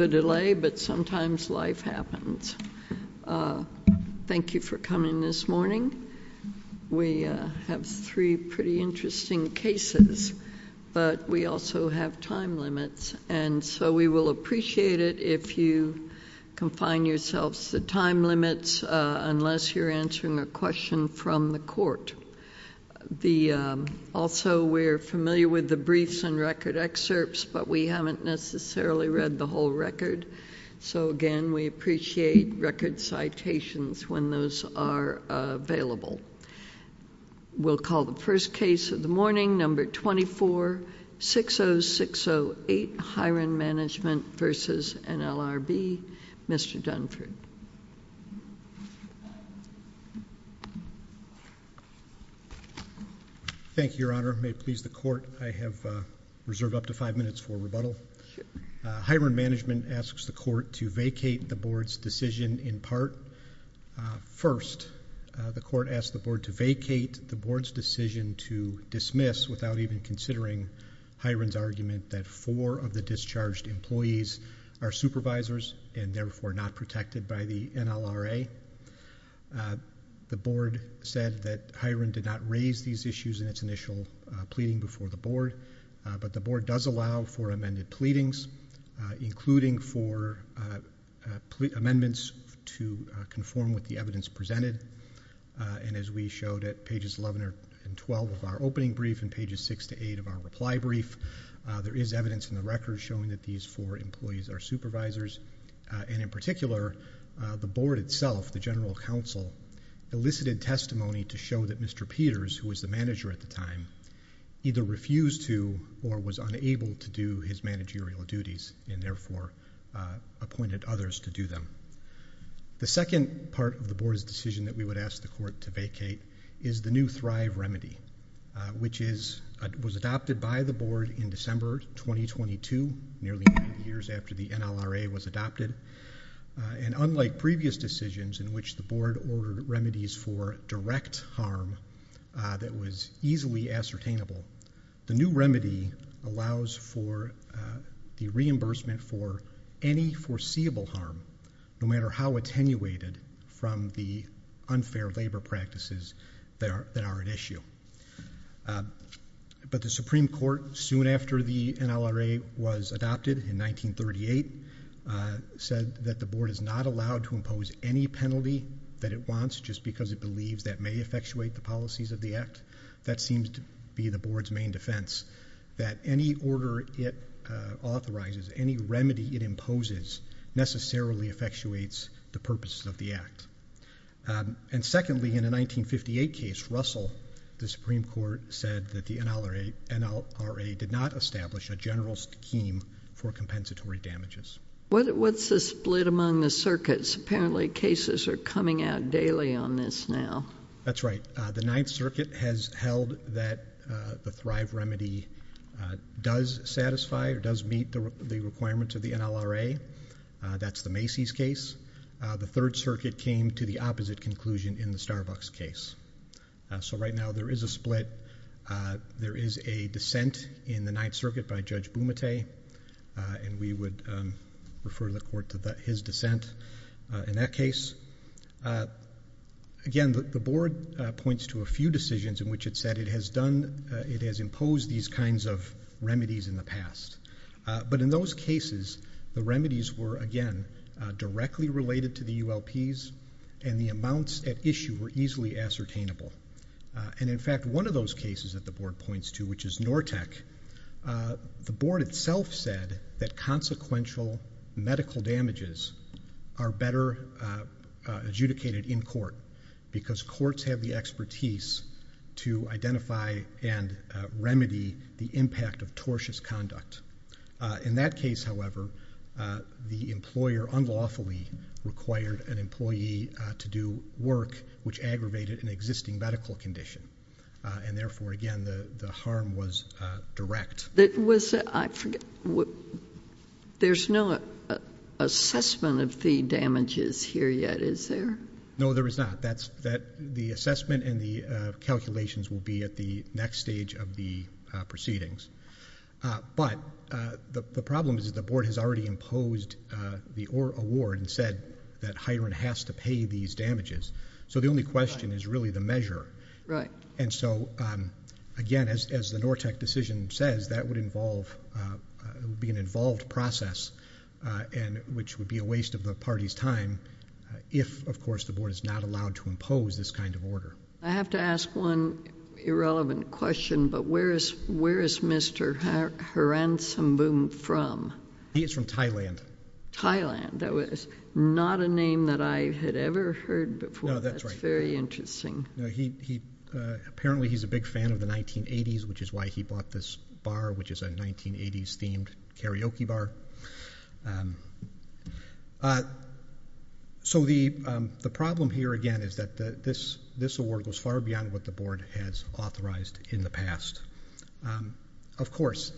Thank you for coming this morning. We have three pretty interesting cases, but we also have time limits, and so we will appreciate it if you confine yourselves to time limits unless you're answering a question from the court. Also, we're familiar with the briefs and record excerpts, but we haven't necessarily read the whole record. So again, we appreciate record citations when those are available. We'll call the first case of the morning, number 24, 60608 Hiran Management v. NLRB. Mr. Dunford. Thank you, Your Honor. May it please the court, I have reserved up to five minutes for rebuttal. Hiran Management asks the court to vacate the board's decision in part. First, the court asks the board to vacate the board's decision to dismiss without even considering Hiran's argument that four of the discharged employees are supervisors and therefore not protected by the NLRA. The board said that Hiran did not raise these issues in its initial pleading before the board, but the board does allow for amended pleadings, including for amendments to conform with the evidence presented. And as we showed at pages 11 and 12 of our opening brief and pages 6 to 8 of our reply brief, there is evidence in the record showing that these four employees are supervisors. And in particular, the board itself, the general counsel, elicited testimony to show that Mr. Peters, who was the manager at the time, either refused to or was unable to do his managerial duties and therefore appointed others to do them. The second part of the board's decision that we would ask the court to vacate is the new Thrive remedy, which was adopted by the board in December 2022, nearly nine years after the NLRA was adopted. And unlike previous decisions in which the board ordered remedies for direct harm that was easily ascertainable, the new remedy allows for the reimbursement for any foreseeable harm, no matter how attenuated, from the unfair labor practices that are at issue. But the Supreme Court, soon after the NLRA was adopted in 1938, said that the board is not allowed to impose any penalty that it wants just because it believes that may effectuate the policies of the act. That seems to be the board's main defense, that any order it authorizes, any remedy it imposes, necessarily effectuates the purpose of the act. And secondly, in a 1958 case, Russell, the Supreme Court, said that the NLRA did not establish a general scheme for compensatory damages. What's the split among the circuits? Apparently cases are coming out daily on this now. That's right. The Ninth Circuit has held that the Thrive does satisfy or does meet the requirements of the NLRA. That's the Macy's case. The Third Circuit came to the opposite conclusion in the Starbucks case. So right now there is a split. There is a dissent in the Ninth Circuit by Judge Bumate, and we would refer the court to his dissent in that case. Again, the board points to a few decisions in which it said it has imposed these kinds of remedies in the past. But in those cases, the remedies were again directly related to the ULPs, and the amounts at issue were easily ascertainable. And in fact, one of those cases that the board points to, which is Nortec, the board itself said that consequential medical damages are better adjudicated in court because courts have the expertise to identify and remedy the impact of tortious conduct. In that case, however, the employer unlawfully required an employee to do work which aggravated an existing medical condition, and therefore again the harm was direct. There's no assessment of the damages here yet, is there? No, there is not. The assessment and the calculations will be at the next stage of the proceedings. But the problem is that the board has already imposed the award and said that Hiron has to pay these damages. So the only question is really the measure. And so again, as the Nortec decision says, that would be an involved process and which would be a waste of the party's time if, of course, the board is not allowed to impose this kind of order. I have to ask one irrelevant question, but where is Mr. Haransambhum from? He is from Thailand. Thailand. That was not a name that I had ever heard before. No, that's right. That's very interesting. Apparently, he's a big fan of the 1980s, which is why he bought this bar, which is a 1980s-themed karaoke bar. So the problem here again is that this award goes far beyond what the board has authorized in the past. Of course,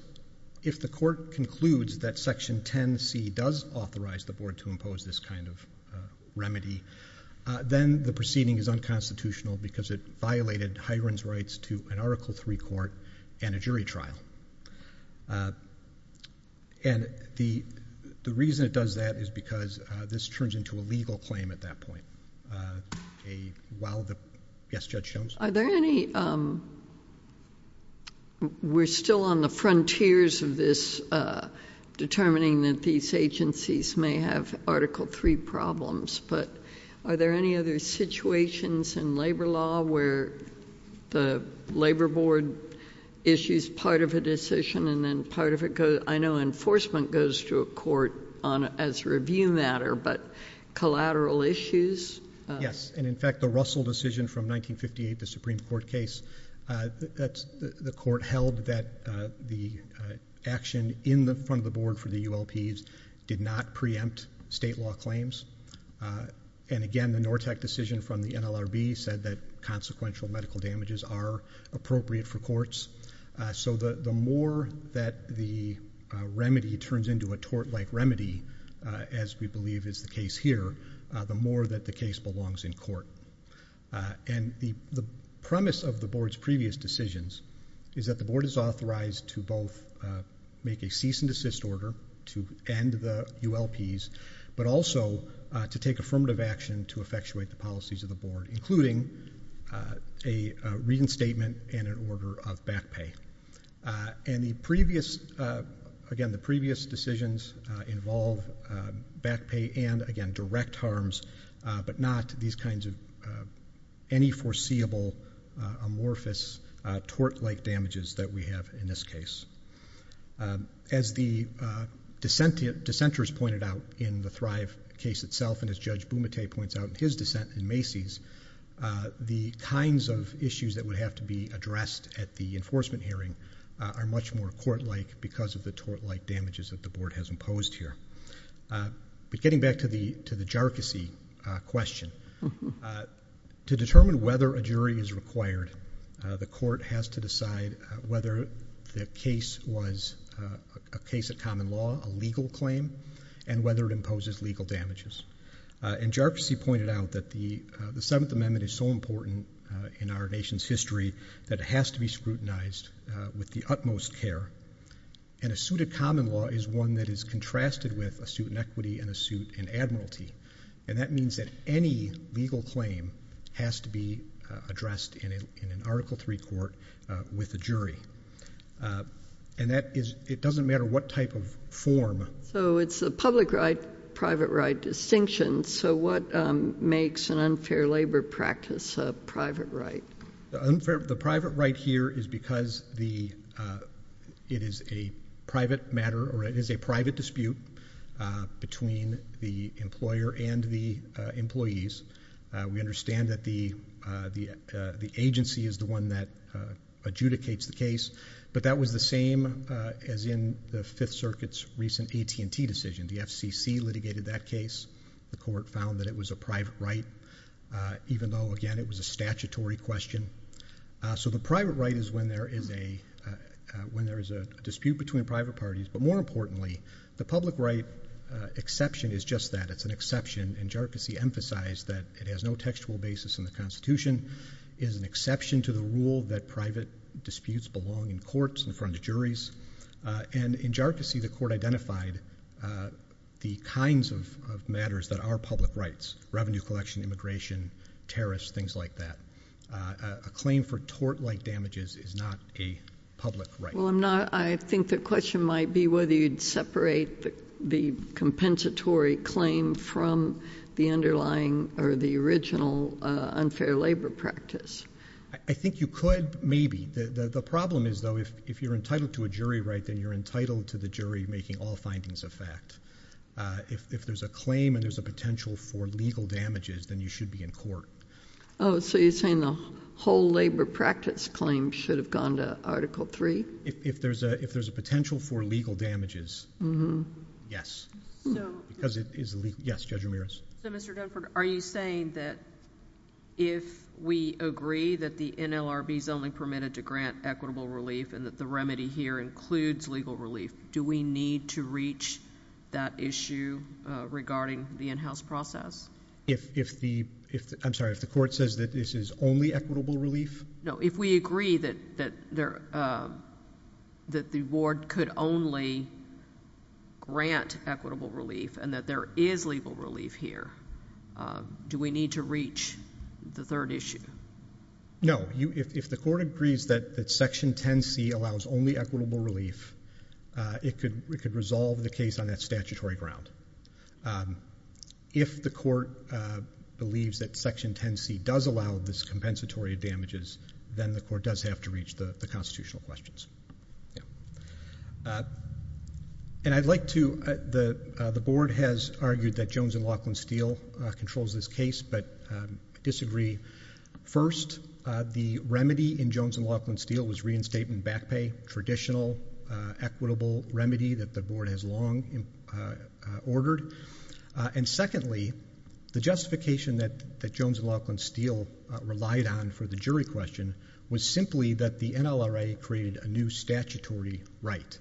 if the court concludes that Section 10C does authorize the board to impose this kind of remedy, then the proceeding is unconstitutional because it violated Hiron's mandates to an Article III court and a jury trial. And the reason it does that is because this turns into a legal claim at that point. Yes, Judge Jones? We're still on the frontiers of this determining that these agencies may have Article III problems, but are there any other situations in labor law where the labor board issues part of a decision and then part of it goes, I know enforcement goes to a court as a review matter, but collateral issues? Yes, and in fact, the Russell decision from 1958, the Supreme Court case, the court held that the action in the front of the board for the ULPs did not preempt state law claims. And again, the Nortec decision from the NLRB said that consequential medical damages are appropriate for courts. So the more that the remedy turns into a tort-like remedy, as we believe is the case here, the more that the case belongs in court. And the premise of the board's previous decisions is that the board is authorized to both make a cease and desist order to end the ULPs, but also to take affirmative action to effectuate the policies of the board, including a reinstatement and an order of back pay. And the previous, again, the previous decisions involve back pay and, again, direct harms, but not these kinds of any foreseeable amorphous tort-like damages that we have in this case. As the dissenters pointed out in the Thrive case itself, and as Judge Bumate points out in his dissent in Macy's, the kinds of issues that would have to be addressed at the enforcement hearing are much more court-like because of the tort-like damages that the board has imposed here. But getting back to the jarczy question, to determine whether a jury is required, the court has to decide whether the case was a case of common law, a legal claim, and whether it imposes legal damages. And jarczy pointed out that the Seventh Amendment is so important in our nation's history that it has to be scrutinized with the utmost care. And a suit of common law is one that is contrasted with a suit in equity and a suit in admiralty. And that means that any legal claim has to be addressed in an Article III court with a jury. And that is, it doesn't matter what type of form. So it's a public right, private right distinction. So what makes an unfair labor practice a private right? The private right here is because it is a private matter or it is a private dispute between the employer and the employees. We understand that the agency is the one that adjudicates the case. But that was the same as in the Fifth Circuit's recent AT&T decision. The FCC litigated that case. The court found that it was a private right, even though, again, it was a statutory question. So the private right is when there is a dispute between private parties. But more importantly, the public right exception is just that. It's an exception. And Jharkhasi emphasized that it has no textual basis in the Constitution. It is an exception to the rule that private disputes belong in courts in front of juries. And in Jharkhasi, the court identified the kinds of matters that are public rights, revenue collection, immigration, tariffs, things like that. A claim for tort-like damages is not a public right. Well, I think the question might be whether you'd separate the compensatory claim from the underlying or the original unfair labor practice. I think you could, maybe. The problem is, though, if you're entitled to a jury right, then you're entitled to the jury making all findings a fact. If there's a claim and there's a potential for legal damages, then you should be in court. Oh, so you're saying the whole labor practice claim should have gone to Article III? If there's a potential for legal damages, yes. Because it is legal. Yes, Judge Ramirez. So, Mr. Dunford, are you saying that if we agree that the NLRB is only permitted to grant equitable relief and that the remedy here includes legal relief, do we need to reach that issue regarding the in-house process? I'm sorry. If the court says that this is only equitable relief? No. If we agree that the ward could only grant equitable relief and that there is legal relief here, do we need to reach the third issue? No. If the court agrees that Section 10C allows only equitable relief, it could resolve the case on that statutory ground. If the court believes that Section 10C does allow this compensatory damages, then the court does have to reach the constitutional questions. And I'd like to, the board has argued that Jones & Laughlin Steel controls this case, but disagree. First, the remedy in Jones & Laughlin Steel was reinstatement back pay, traditional equitable remedy that the board has long ordered. And secondly, the justification that Jones & Laughlin Steel relied on for the jury question was simply that the NLRA created a new statutory right.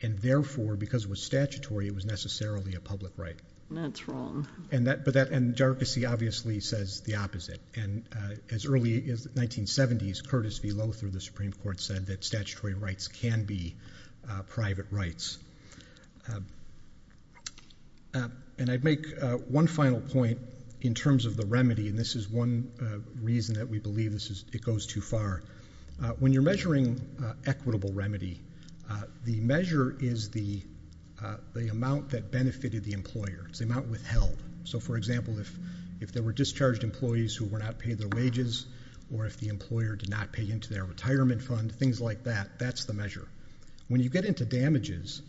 And therefore, because it was statutory, it was necessarily a public right. That's wrong. And that, but that, and jargons obviously says the opposite. And as early as the 1970s, Curtis V. Lothar of the Supreme Court said that statutory rights can be private rights. And I'd make one final point in terms of the remedy, and this is one reason that we believe this is, it goes too far. When you're measuring equitable remedy, the measure is the amount that benefited the employer. It's the amount withheld. So for example, if there were discharged employees who were not paid their wages, or if the employer did not pay into their retirement fund, things like that, that's the measure. When you get into damages,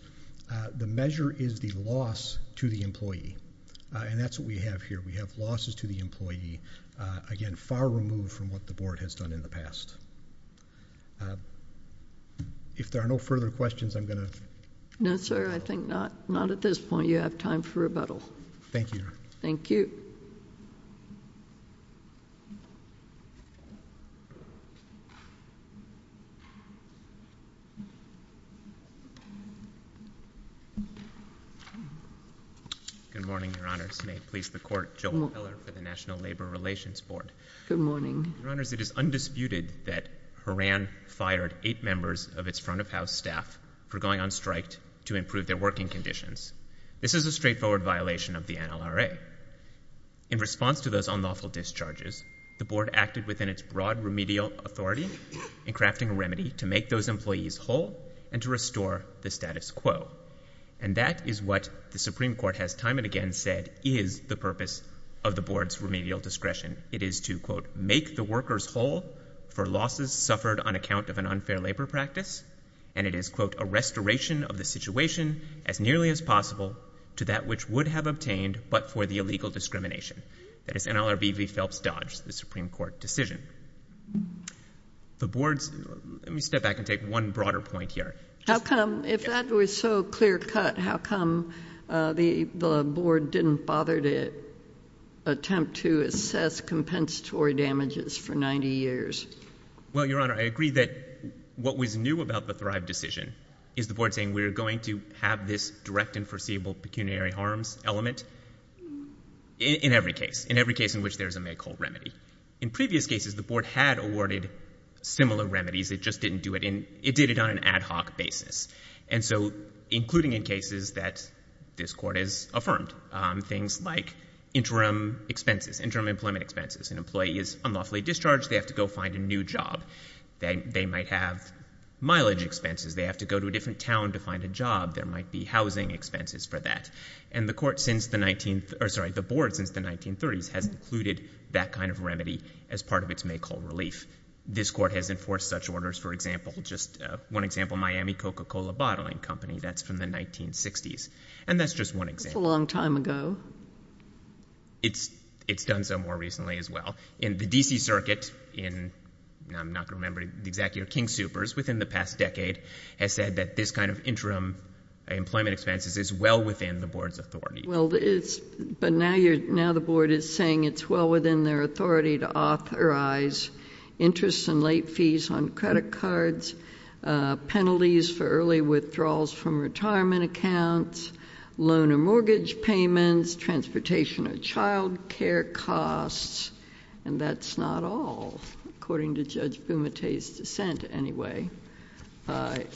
the measure is the loss to the employee. And that's what we have here. We have losses to the employee. Again, far removed from what the board has done in the past. If there are no further questions, I'm going to... No, sir. I think not. Not at this point. You have time for rebuttal. Thank you. Thank you. Good morning, your honors. May it please the court, Joel Heller for the National Labor Relations Board. Good morning. Your honors, it is undisputed that Horan fired eight members of its front of house staff for going on strike to improve their working conditions. This is a straightforward violation of the NLRA. In response to those unlawful discharges, the board acted within its broad remedial authority in crafting a remedy to make those employees whole and to restore the status quo. And that is what the Supreme Court has time and again said is the purpose of the board's remedial discretion. It is to, quote, make the workers whole for losses suffered on account of an unfair labor practice. And it is, quote, a restoration of the situation as nearly as possible to that which would have obtained but for the illegal discrimination. That is NLRB v. Phelps Dodge, the Supreme Court decision. The board's... Let me step back and take one broader point here. How come, if that was so clear cut, how come the board didn't bother to attempt to assess compensatory damages for 90 years? Well, your honor, I agree that what was new about the Thrive decision is the board saying we are going to have this direct and foreseeable pecuniary harms element in every case, in every case in which there is a make whole remedy. In previous cases, the board had awarded similar remedies. It just didn't do it in... It did it on an ad hoc basis. And so, including in cases that this court has affirmed, things like interim expenses, interim employment expenses. An employee is unlawfully discharged. They have to go find a new job. They might have mileage expenses. They have to go to a different town to find a job. There might be housing expenses for that. And the court since the 19th... Or sorry, the board since the 1930s has included that kind of remedy as part of its make whole relief. This court has enforced such orders, for example, just one example, Miami Coca-Cola Bottling Company. That's from the 1960s. And that's just one example. That's a long time ago. It's done so more recently as well. In the D.C. Circuit, in... I'm not going to remember the exact year. King Soopers, within the past decade, has said that this kind of interim employment expenses is well within the board's authority. Well, it's... But now you're... Now the board is saying it's well within their authority to authorize interest and late fees on credit cards, penalties for early withdrawals from retirement accounts, loan or mortgage payments, transportation or child care costs. And that's not all, according to Judge Bumate's dissent, anyway. The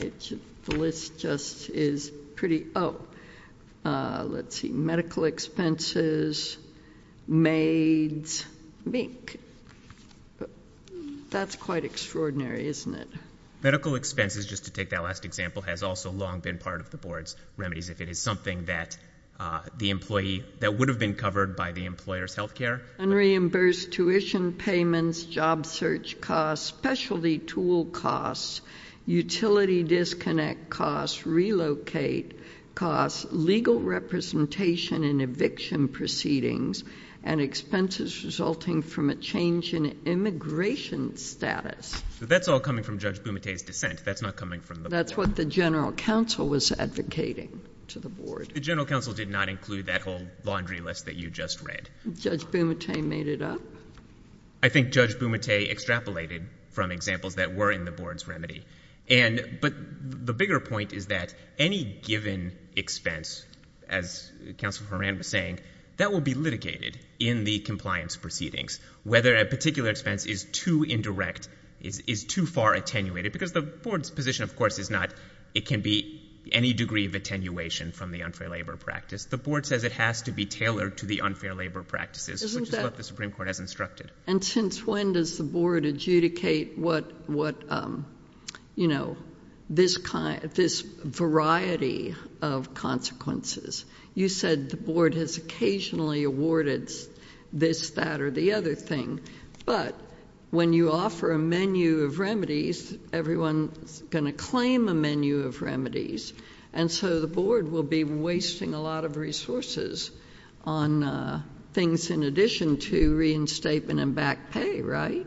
list just is pretty... Oh, let's see. Medical expenses, maids, mink. That's quite extraordinary, isn't it? Medical expenses, just to take that last example, has also long been part of the board's remedies if it is something that the employee... That would have been covered by the employer's health care. Unreimbursed tuition payments, job search costs, specialty tool costs, utility disconnect costs, relocate costs, legal representation in eviction proceedings, and expenses resulting from a change in immigration status. That's all coming from Judge Bumate's dissent. That's not coming from the board. That's what the general counsel was advocating to the board. The general counsel did not include that whole laundry list that you just read. Judge Bumate made it up. I think Judge Bumate extrapolated from examples that were in the board's remedy. But the bigger point is that any given expense, as Counselor Horan was saying, that will be litigated in the compliance proceedings. Whether a particular expense is too indirect, is too far attenuated, because the board's position, of course, is not it can be any degree of attenuation from the unfair labor practice. The board says it has to be tailored to the unfair labor practices, which is what the Supreme Court has instructed. And since when does the board adjudicate what, you know, this variety of consequences? You said the board has occasionally awarded this, that, or the other thing. But when you offer a menu of remedies, everyone's going to claim a menu of remedies. And so the board will be wasting a lot of resources on things in addition to reinstatement and back pay, right?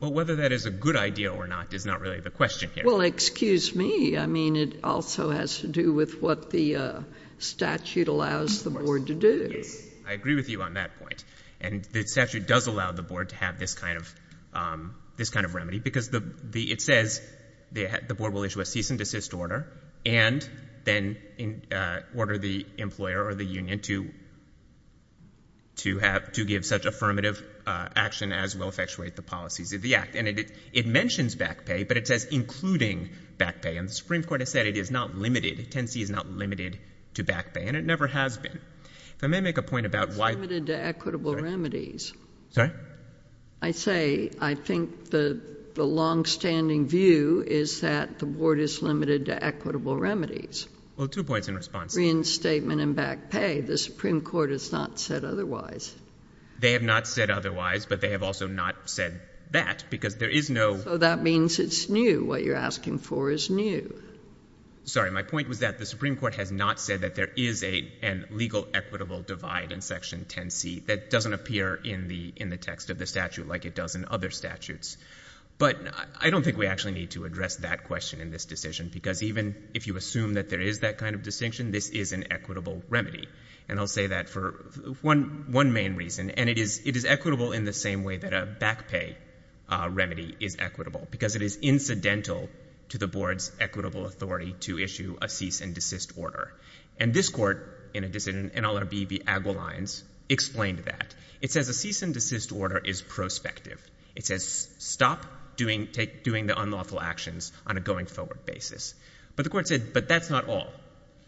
Well, whether that is a good idea or not is not really the question here. Well, excuse me. I mean, it also has to do with what the statute allows the board to do. Yes. I agree with you on that point. And the statute does allow the board to have this kind of remedy, because it says the board will issue a cease and desist order, and then it can order the employer or the union to have, to give such affirmative action as will effectuate the policies of the Act. And it mentions back pay, but it says including back pay. And the Supreme Court has said it is not limited, 10C is not limited to back pay, and it never has been. If I may make a point about why — It's limited to equitable remedies. Sorry? I say I think the longstanding view is that the board is limited to equitable remedies. Well, two points in response. Reinstatement and back pay. The Supreme Court has not said otherwise. They have not said otherwise, but they have also not said that, because there is no — So that means it's new. What you're asking for is new. Sorry, my point was that the Supreme Court has not said that there is a legal equitable divide in Section 10C that doesn't appear in the text of the statute like it does in other statutes. But I don't think we actually need to address that question in this decision, because even if you assume that there is that kind of distinction, this is an equitable remedy. And I'll say that for one main reason, and it is equitable in the same way that a back pay remedy is equitable, because it is incidental to the board's equitable authority to issue a cease and desist order. And this court in NLRB v. Agwelines explained that. It says a cease and desist order is retrospective. It says stop doing the unlawful actions on a going-forward basis. But the court said, but that's not all.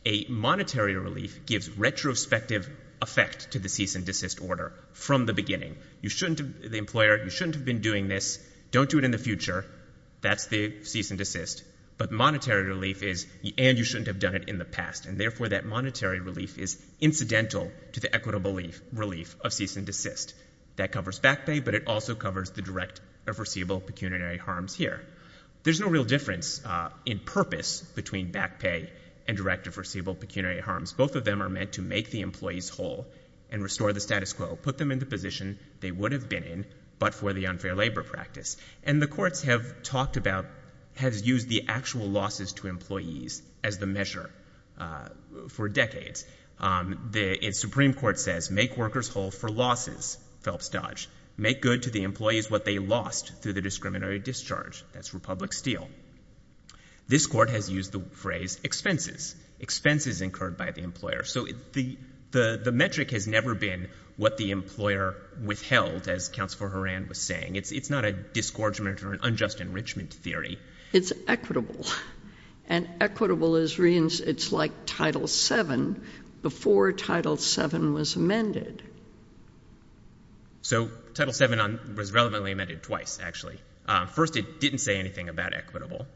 A monetary relief gives retrospective effect to the cease and desist order from the beginning. You shouldn't — the employer, you shouldn't have been doing this. Don't do it in the future. That's the cease and desist. But monetary relief is — and you shouldn't have done it in the past. And therefore, that monetary relief is incidental to the equitable relief of cease and desist. That covers back pay, but it also covers the direct or foreseeable pecuniary harms here. There's no real difference in purpose between back pay and direct or foreseeable pecuniary harms. Both of them are meant to make the employees whole and restore the status quo, put them in the position they would have been in, but for the unfair labor practice. And the courts have talked about — has used the actual losses to employees as the measure for decades. The Supreme Court says, make workers whole for losses, Phelps Dodge. Make good to the employees what they lost through the discriminatory discharge. That's Republic Steel. This court has used the phrase expenses. Expenses incurred by the employer. So the metric has never been what the employer withheld, as Counselor Horan was saying. It's not a disgorgement or an unjust enrichment theory. It's equitable. And equitable is — it's like Title VII before Title VII was amended. So Title VII was relevantly amended twice, actually. First, it didn't say anything about equitable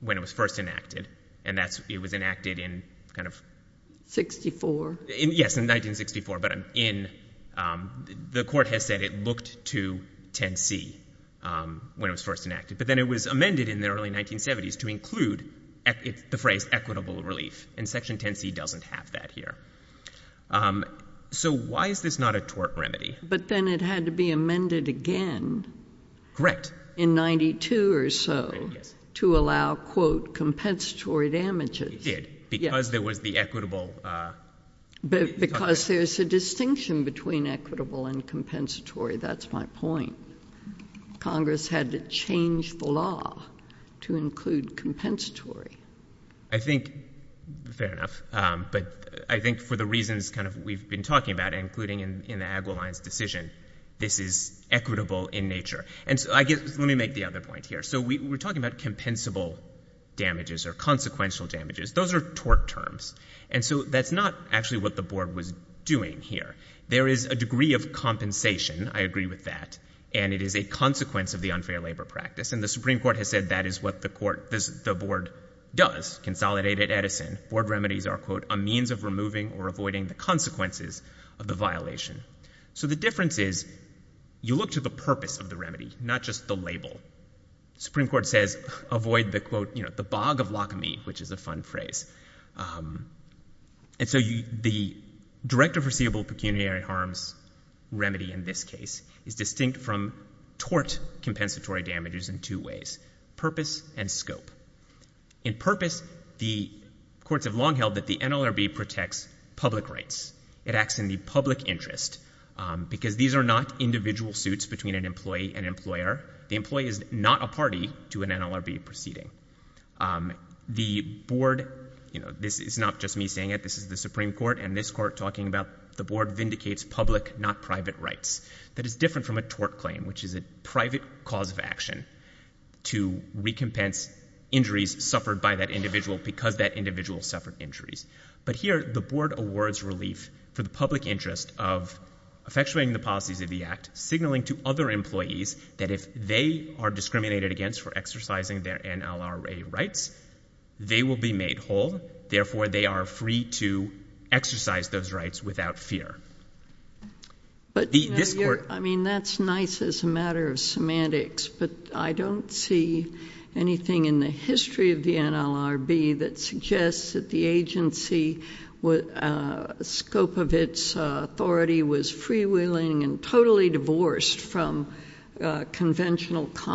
when it was first enacted. And that's — it was enacted in kind of — 64. Yes, in 1964. But in — the court has said it looked to 10C when it was first enacted. But then it was amended in the early 1970s to include the phrase equitable relief. And Section 10C doesn't have that here. So why is this not a tort remedy? But then it had to be amended again in 92 or so to allow, quote, compensatory damages. It did, because there was the equitable — Because there's a distinction between equitable and compensatory. That's my point. Congress had to change the law to include compensatory. I think — fair enough. But I think for the reasons kind of we've been talking about, including in the Agwiline's decision, this is equitable in nature. And so I guess — let me make the other point here. So we're talking about compensable damages or consequential damages. Those are tort terms. And so that's not actually what the Board was doing here. There is a degree of compensation. I agree with that. And it is a consequence of the unfair labor practice. And the Supreme Court has said that is what the court — the Board does. Consolidated Edison. Board remedies are, quote, a means of removing or avoiding the consequences of the violation. So the difference is, you look to the purpose of the remedy, not just the label. The Supreme Court says, avoid the, quote, you know, the bog of locomy, which is a fun phrase. And so the direct or foreseeable pecuniary harms remedy in this case is distinct from tort compensatory damages in two ways. Purpose and scope. In purpose, the courts have long held that the NLRB protects public rights. It acts in the public interest. Because these are not individual suits between an employee and employer. The employee is not a party to an NLRB proceeding. The Board — you know, this is not just me saying it. This is the Supreme Court and this court talking about the Board vindicates public, not private rights. That is different from a tort claim, which is a private cause of action to recompense injuries suffered by that individual because that individual suffered injuries. But here, the Board awards relief for the public interest of effectuating the policies of the act, signaling to other employees that if they are discriminated against for exercising their NLRB rights, they will be made whole. Therefore, they are free to exercise those rights without fear. But you know, I mean, that's nice as a matter of semantics, but I don't see anything in the history of the NLRB that suggests that the agency, scope of its authority was free to exercise its NLRB rights without fear of being made whole.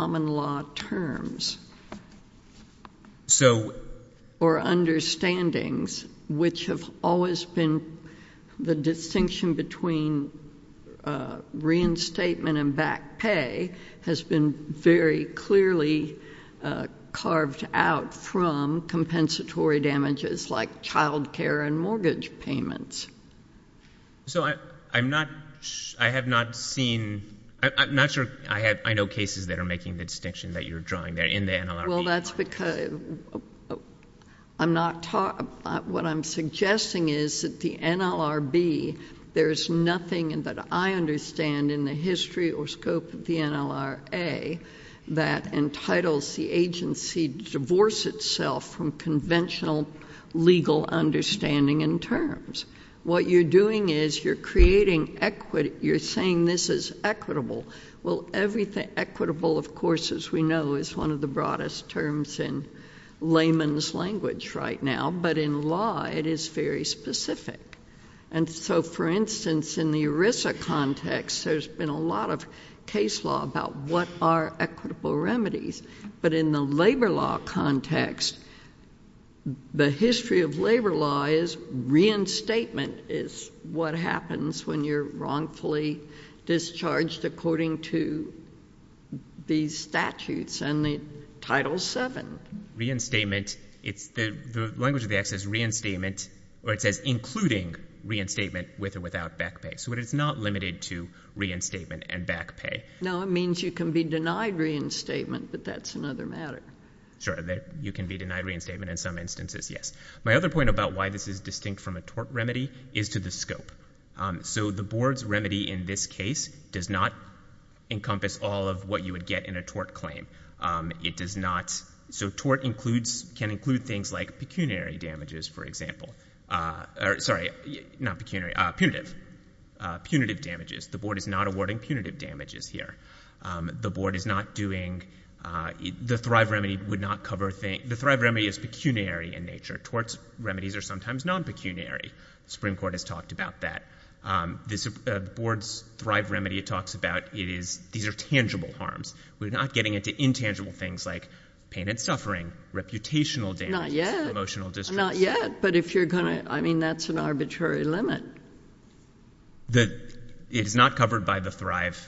I mean, I don't see anything in the history of the NLRB that suggests that the agency, whole. I mean, I don't see anything in the history of the NLRB that suggests that the agency, scope of its authority was free to exercise its NLRB rights without fear of being made Well, that's because I'm not, what I'm suggesting is that the NLRB, there's nothing that I understand in the history or scope of the NLRA that entitles the agency to divorce itself from conventional legal understanding and terms. What you're doing is you're creating equity, you're saying this is equitable. Well, everything, equitable, of course, as we know, is one of the broadest terms in layman's language right now, but in law, it is very specific. And so, for instance, in the ERISA context, there's been a lot of case law about what are equitable remedies. But in the labor law context, the history of labor law is reinstatement is what happens when you're wrongfully discharged according to these statutes and the Title VII. Reinstatement, it's, the language of the act says reinstatement, or it says including reinstatement with or without back pay, so it is not limited to reinstatement and back pay. No, it means you can be denied reinstatement, but that's another matter. Sure, you can be denied reinstatement in some instances, yes. My other point about why this is distinct from a tort remedy is to the scope. So the board's remedy in this case does not encompass all of what you would get in a tort claim. It does not, so tort includes, can include things like pecuniary damages, for example, or, sorry, not pecuniary, punitive, punitive damages. The board is not awarding punitive damages here. The board is not doing, the Thrive remedy would not cover, the Thrive remedy is pecuniary in nature. Torts remedies are sometimes non-pecuniary. Supreme Court has talked about that. This board's Thrive remedy talks about, it is, these are tangible harms. We're not getting into intangible things like pain and suffering, reputational damages. Not yet. Not yet, but if you're going to, I mean, that's an arbitrary limit. That it is not covered by the Thrive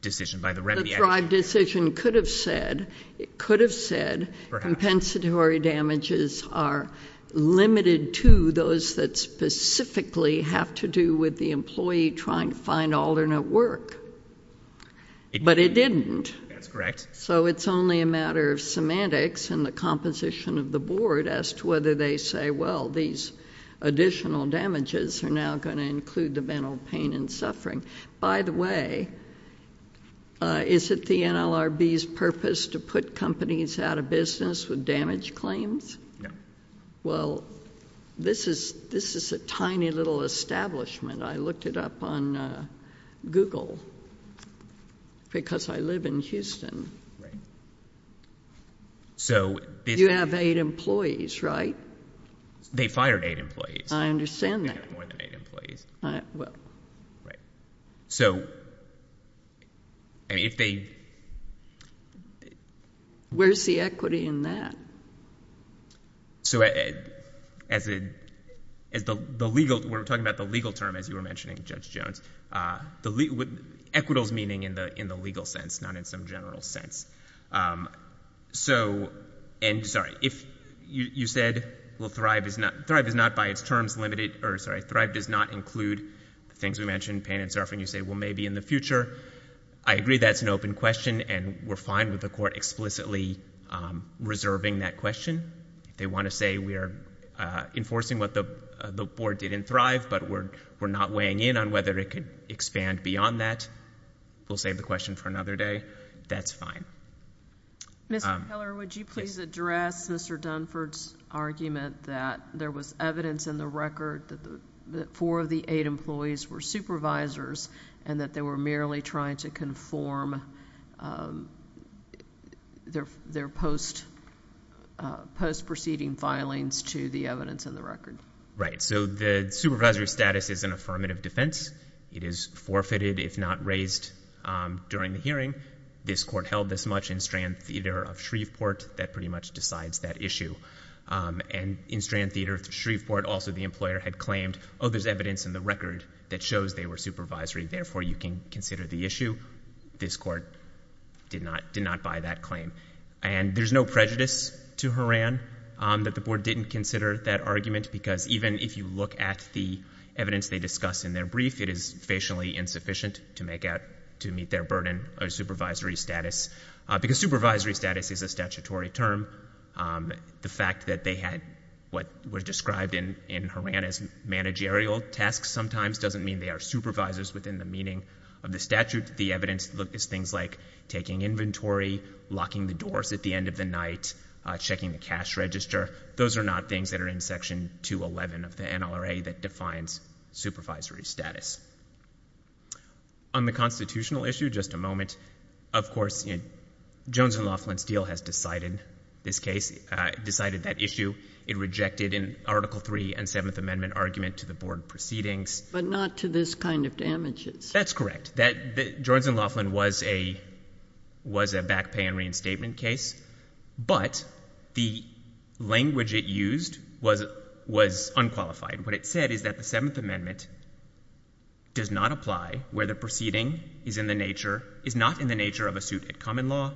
decision, by the remedy. The Thrive decision could have said, it could have said compensatory damages are limited to those that specifically have to do with the employee trying to find alternate work. But it didn't. That's correct. So it's only a matter of semantics and the composition of the board as to whether they say, well, these additional damages are now going to include the mental pain and suffering. By the way, is it the NLRB's purpose to put companies out of business with damage claims? No. Well, this is, this is a tiny little establishment. I looked it up on Google because I live in Houston. Right. So. You have eight employees, right? They fired eight employees. I understand that. They fired more than eight employees. Well. Right. So, I mean, if they. Where's the equity in that? So, as the legal, we're talking about the legal term, as you were mentioning, Judge Jones. Equitals meaning in the legal sense, not in some general sense. So, and sorry, if you said, well, Thrive is not, Thrive is not by its terms limited, or sorry, Thrive does not include the things we mentioned, pain and suffering. You say, well, maybe in the future. I agree that's an open question, and we're fine with the court explicitly reserving that question. They want to say we are enforcing what the board did in Thrive, but we're not weighing in on whether it could expand beyond that. We'll save the question for another day. That's fine. Mr. Keller, would you please address Mr. Dunford's argument that there was evidence in the record that four of the eight employees were supervisors and that they were merely trying to conform their post-proceeding filings to the evidence in the record? Right. So the supervisory status is an affirmative defense. It is forfeited if not raised during the hearing. This court held this much in Strand Theater of Shreveport. That pretty much decides that issue. And in Strand Theater of Shreveport, also the employer had claimed, oh, there's evidence in the record that shows they were supervisory. Therefore, you can consider the issue. This court did not buy that claim. And there's no prejudice to Horan that the board didn't consider that argument because even if you look at the evidence they discuss in their brief, it is facially insufficient to make out to meet their burden of supervisory status. Because supervisory status is a statutory term, the fact that they had what was described in Horan as managerial tasks sometimes doesn't mean they are supervisors within the meaning of the statute. And the evidence is things like taking inventory, locking the doors at the end of the night, checking the cash register. Those are not things that are in Section 211 of the NLRA that defines supervisory status. On the constitutional issue, just a moment. Of course, Jones and Laughlin's deal has decided this case, decided that issue. It rejected an Article III and Seventh Amendment argument to the board proceedings. But not to this kind of damages. That's correct. Jones and Laughlin was a back pay and reinstatement case. But the language it used was unqualified. What it said is that the Seventh Amendment does not apply where the proceeding is in the nature, is not in the nature of a suit at common law.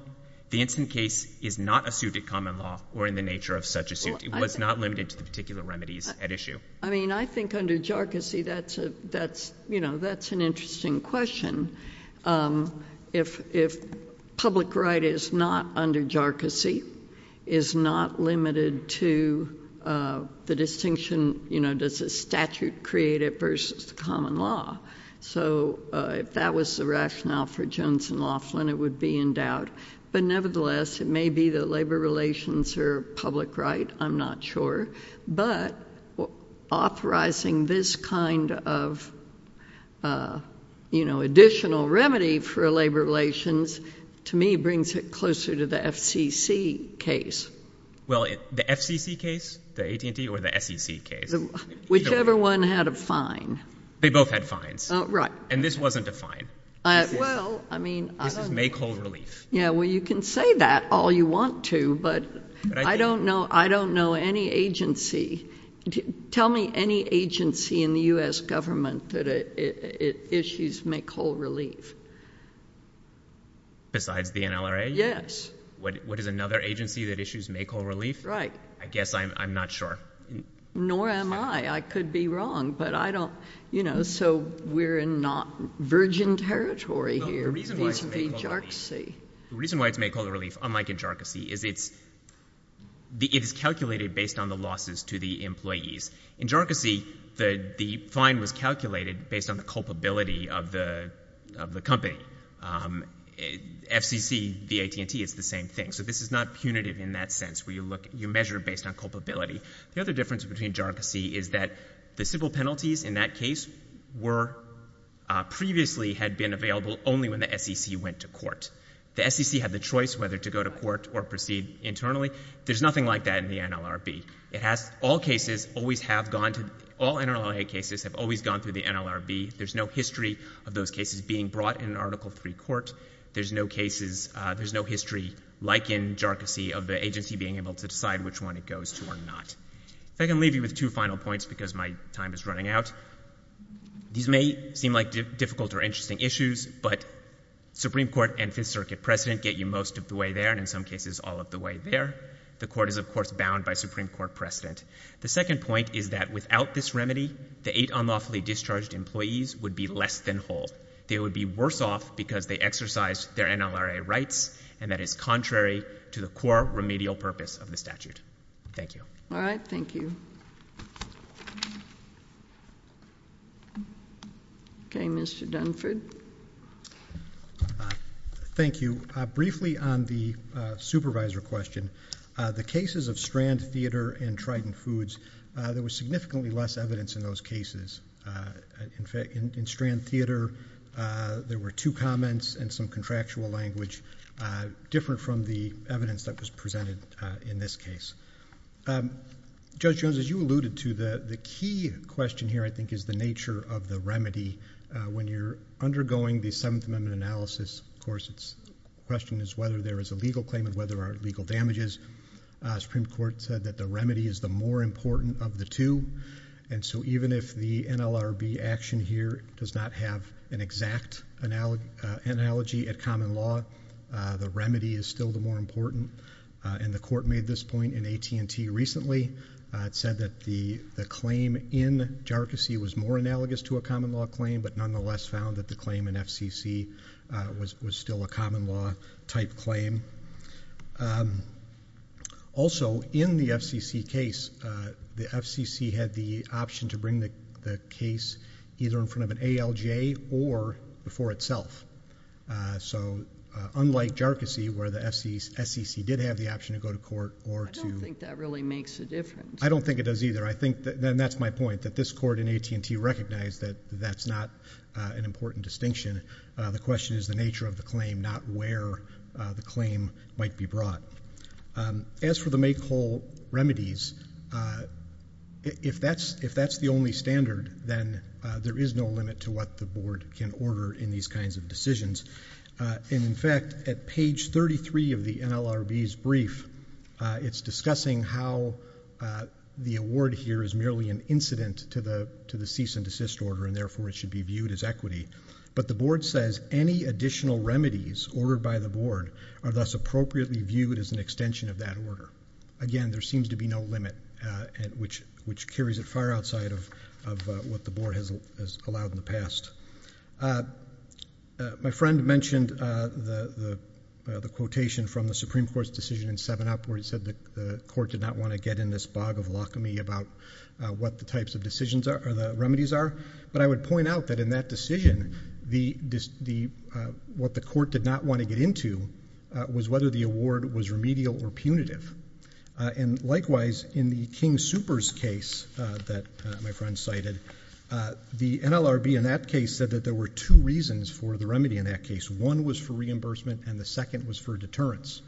The instant case is not a suit at common law or in the nature of such a suit. It was not limited to the particular remedies at issue. I mean, I think under jarcossy, that's an interesting question. If public right is not under jarcossy, is not limited to the distinction, you know, does the statute create it versus the common law? So if that was the rationale for Jones and Laughlin, it would be in doubt. But nevertheless, it may be that labor relations are public right. I'm not sure. But authorizing this kind of, you know, additional remedy for labor relations to me brings it closer to the FCC case. Well, the FCC case, the AT&T or the SEC case. Whichever one had a fine. They both had fines. Right. And this wasn't a fine. Well, I mean. This is make whole relief. Yeah, well, you can say that all you want to. But I don't know. I don't know any agency. Tell me any agency in the U.S. government that issues make whole relief. Besides the NLRA? Yes. What is another agency that issues make whole relief? Right. I guess I'm not sure. Nor am I. I could be wrong. But I don't. You know, so we're in not virgin territory here. The reason why it's make whole relief, unlike in JARCAS-C, is it's calculated based on the losses to the employees. In JARCAS-C, the fine was calculated based on the culpability of the company. FCC, the AT&T, it's the same thing. So this is not punitive in that sense where you measure based on culpability. The other difference between JARCAS-C is that the civil penalties in that case were previously had been available only when the SEC went to court. The SEC had the choice whether to go to court or proceed internally. There's nothing like that in the NLRB. All NLRA cases have always gone through the NLRB. There's no history of those cases being brought in an Article III court. There's no history like in JARCAS-C of the agency being able to decide which one it goes to or not. If I can leave you with two final points because my time is running out. These may seem like difficult or interesting issues, but Supreme Court and Fifth Circuit precedent get you most of the way there, and in some cases all of the way there. The court is, of course, bound by Supreme Court precedent. The second point is that without this remedy, the eight unlawfully discharged employees would be less than whole. They would be worse off because they exercised their NLRA rights, and that is contrary to the core remedial purpose of the statute. Thank you. All right, thank you. Okay, Mr. Dunford. Thank you. Briefly on the supervisor question, the cases of Strand Theater and Triton Foods, there was significantly less evidence in those cases. In fact, in Strand Theater, there were two comments and some contractual language different from the evidence that was presented in this case. Judge Jones, as you alluded to, the key question here, I think, is the nature of the remedy. When you're undergoing the Seventh Amendment analysis, of course, the question is whether there is a legal claim and whether there are legal damages. The Supreme Court said that the remedy is the more important of the two, and so even if the NLRB action here does not have an exact analogy at common law, the remedy is still the more important. And the court made this point in AT&T recently. It said that the claim in JRCC was more analogous to a common law claim, but nonetheless found that the claim in FCC was still a common law type claim. Also, in the FCC case, the FCC had the option to bring the case either in front of an ALJ or before itself. So unlike JRCC, where the FCC did have the option to go to court or to... I don't think that really makes a difference. I don't think it does either. And that's my point, that this court in AT&T recognized that that's not an important distinction. The question is the nature of the claim, not where the claim might be brought. As for the make-all remedies, if that's the only standard, then there is no limit to what the Board can order in these kinds of decisions. In fact, at page 33 of the NLRB's brief, it's discussing how the award here is merely an incident to the cease and desist order, and therefore it should be viewed as equity. But the Board says any additional remedies ordered by the Board are thus appropriately viewed as an extension of that order. Again, there seems to be no limit, which carries it far outside of what the Board has allowed in the past. My friend mentioned the quotation from the Supreme Court's decision in 7-Up, where he said the Court did not want to get in this bog of alchemy about what the types of decisions or the remedies are. But I would point out that in that decision, what the Court did not want to get into was whether the award was remedial or punitive. And likewise, in the King-Super's case that my friend cited, the NLRB in that case said that there were two reasons for the remedy in that case. One was for reimbursement, and the second was for deterrence.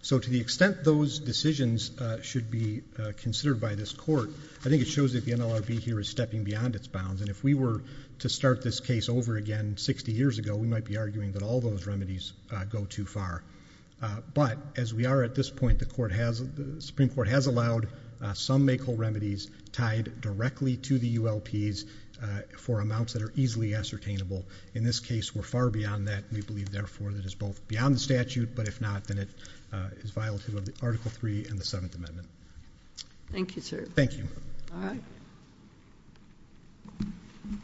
So to the extent those decisions should be considered by this Court, I think it shows that the NLRB here is stepping beyond its bounds. And if we were to start this case over again 60 years ago, we might be arguing that all those remedies go too far. But as we are at this point, the Supreme Court has allowed some make whole remedies tied directly to the ULPs for amounts that are easily ascertainable. In this case, we're far beyond that. We believe, therefore, that it's both beyond the statute. But if not, then it is violative of the Article III and the Seventh Amendment. Thank you, sir. Thank you. All right.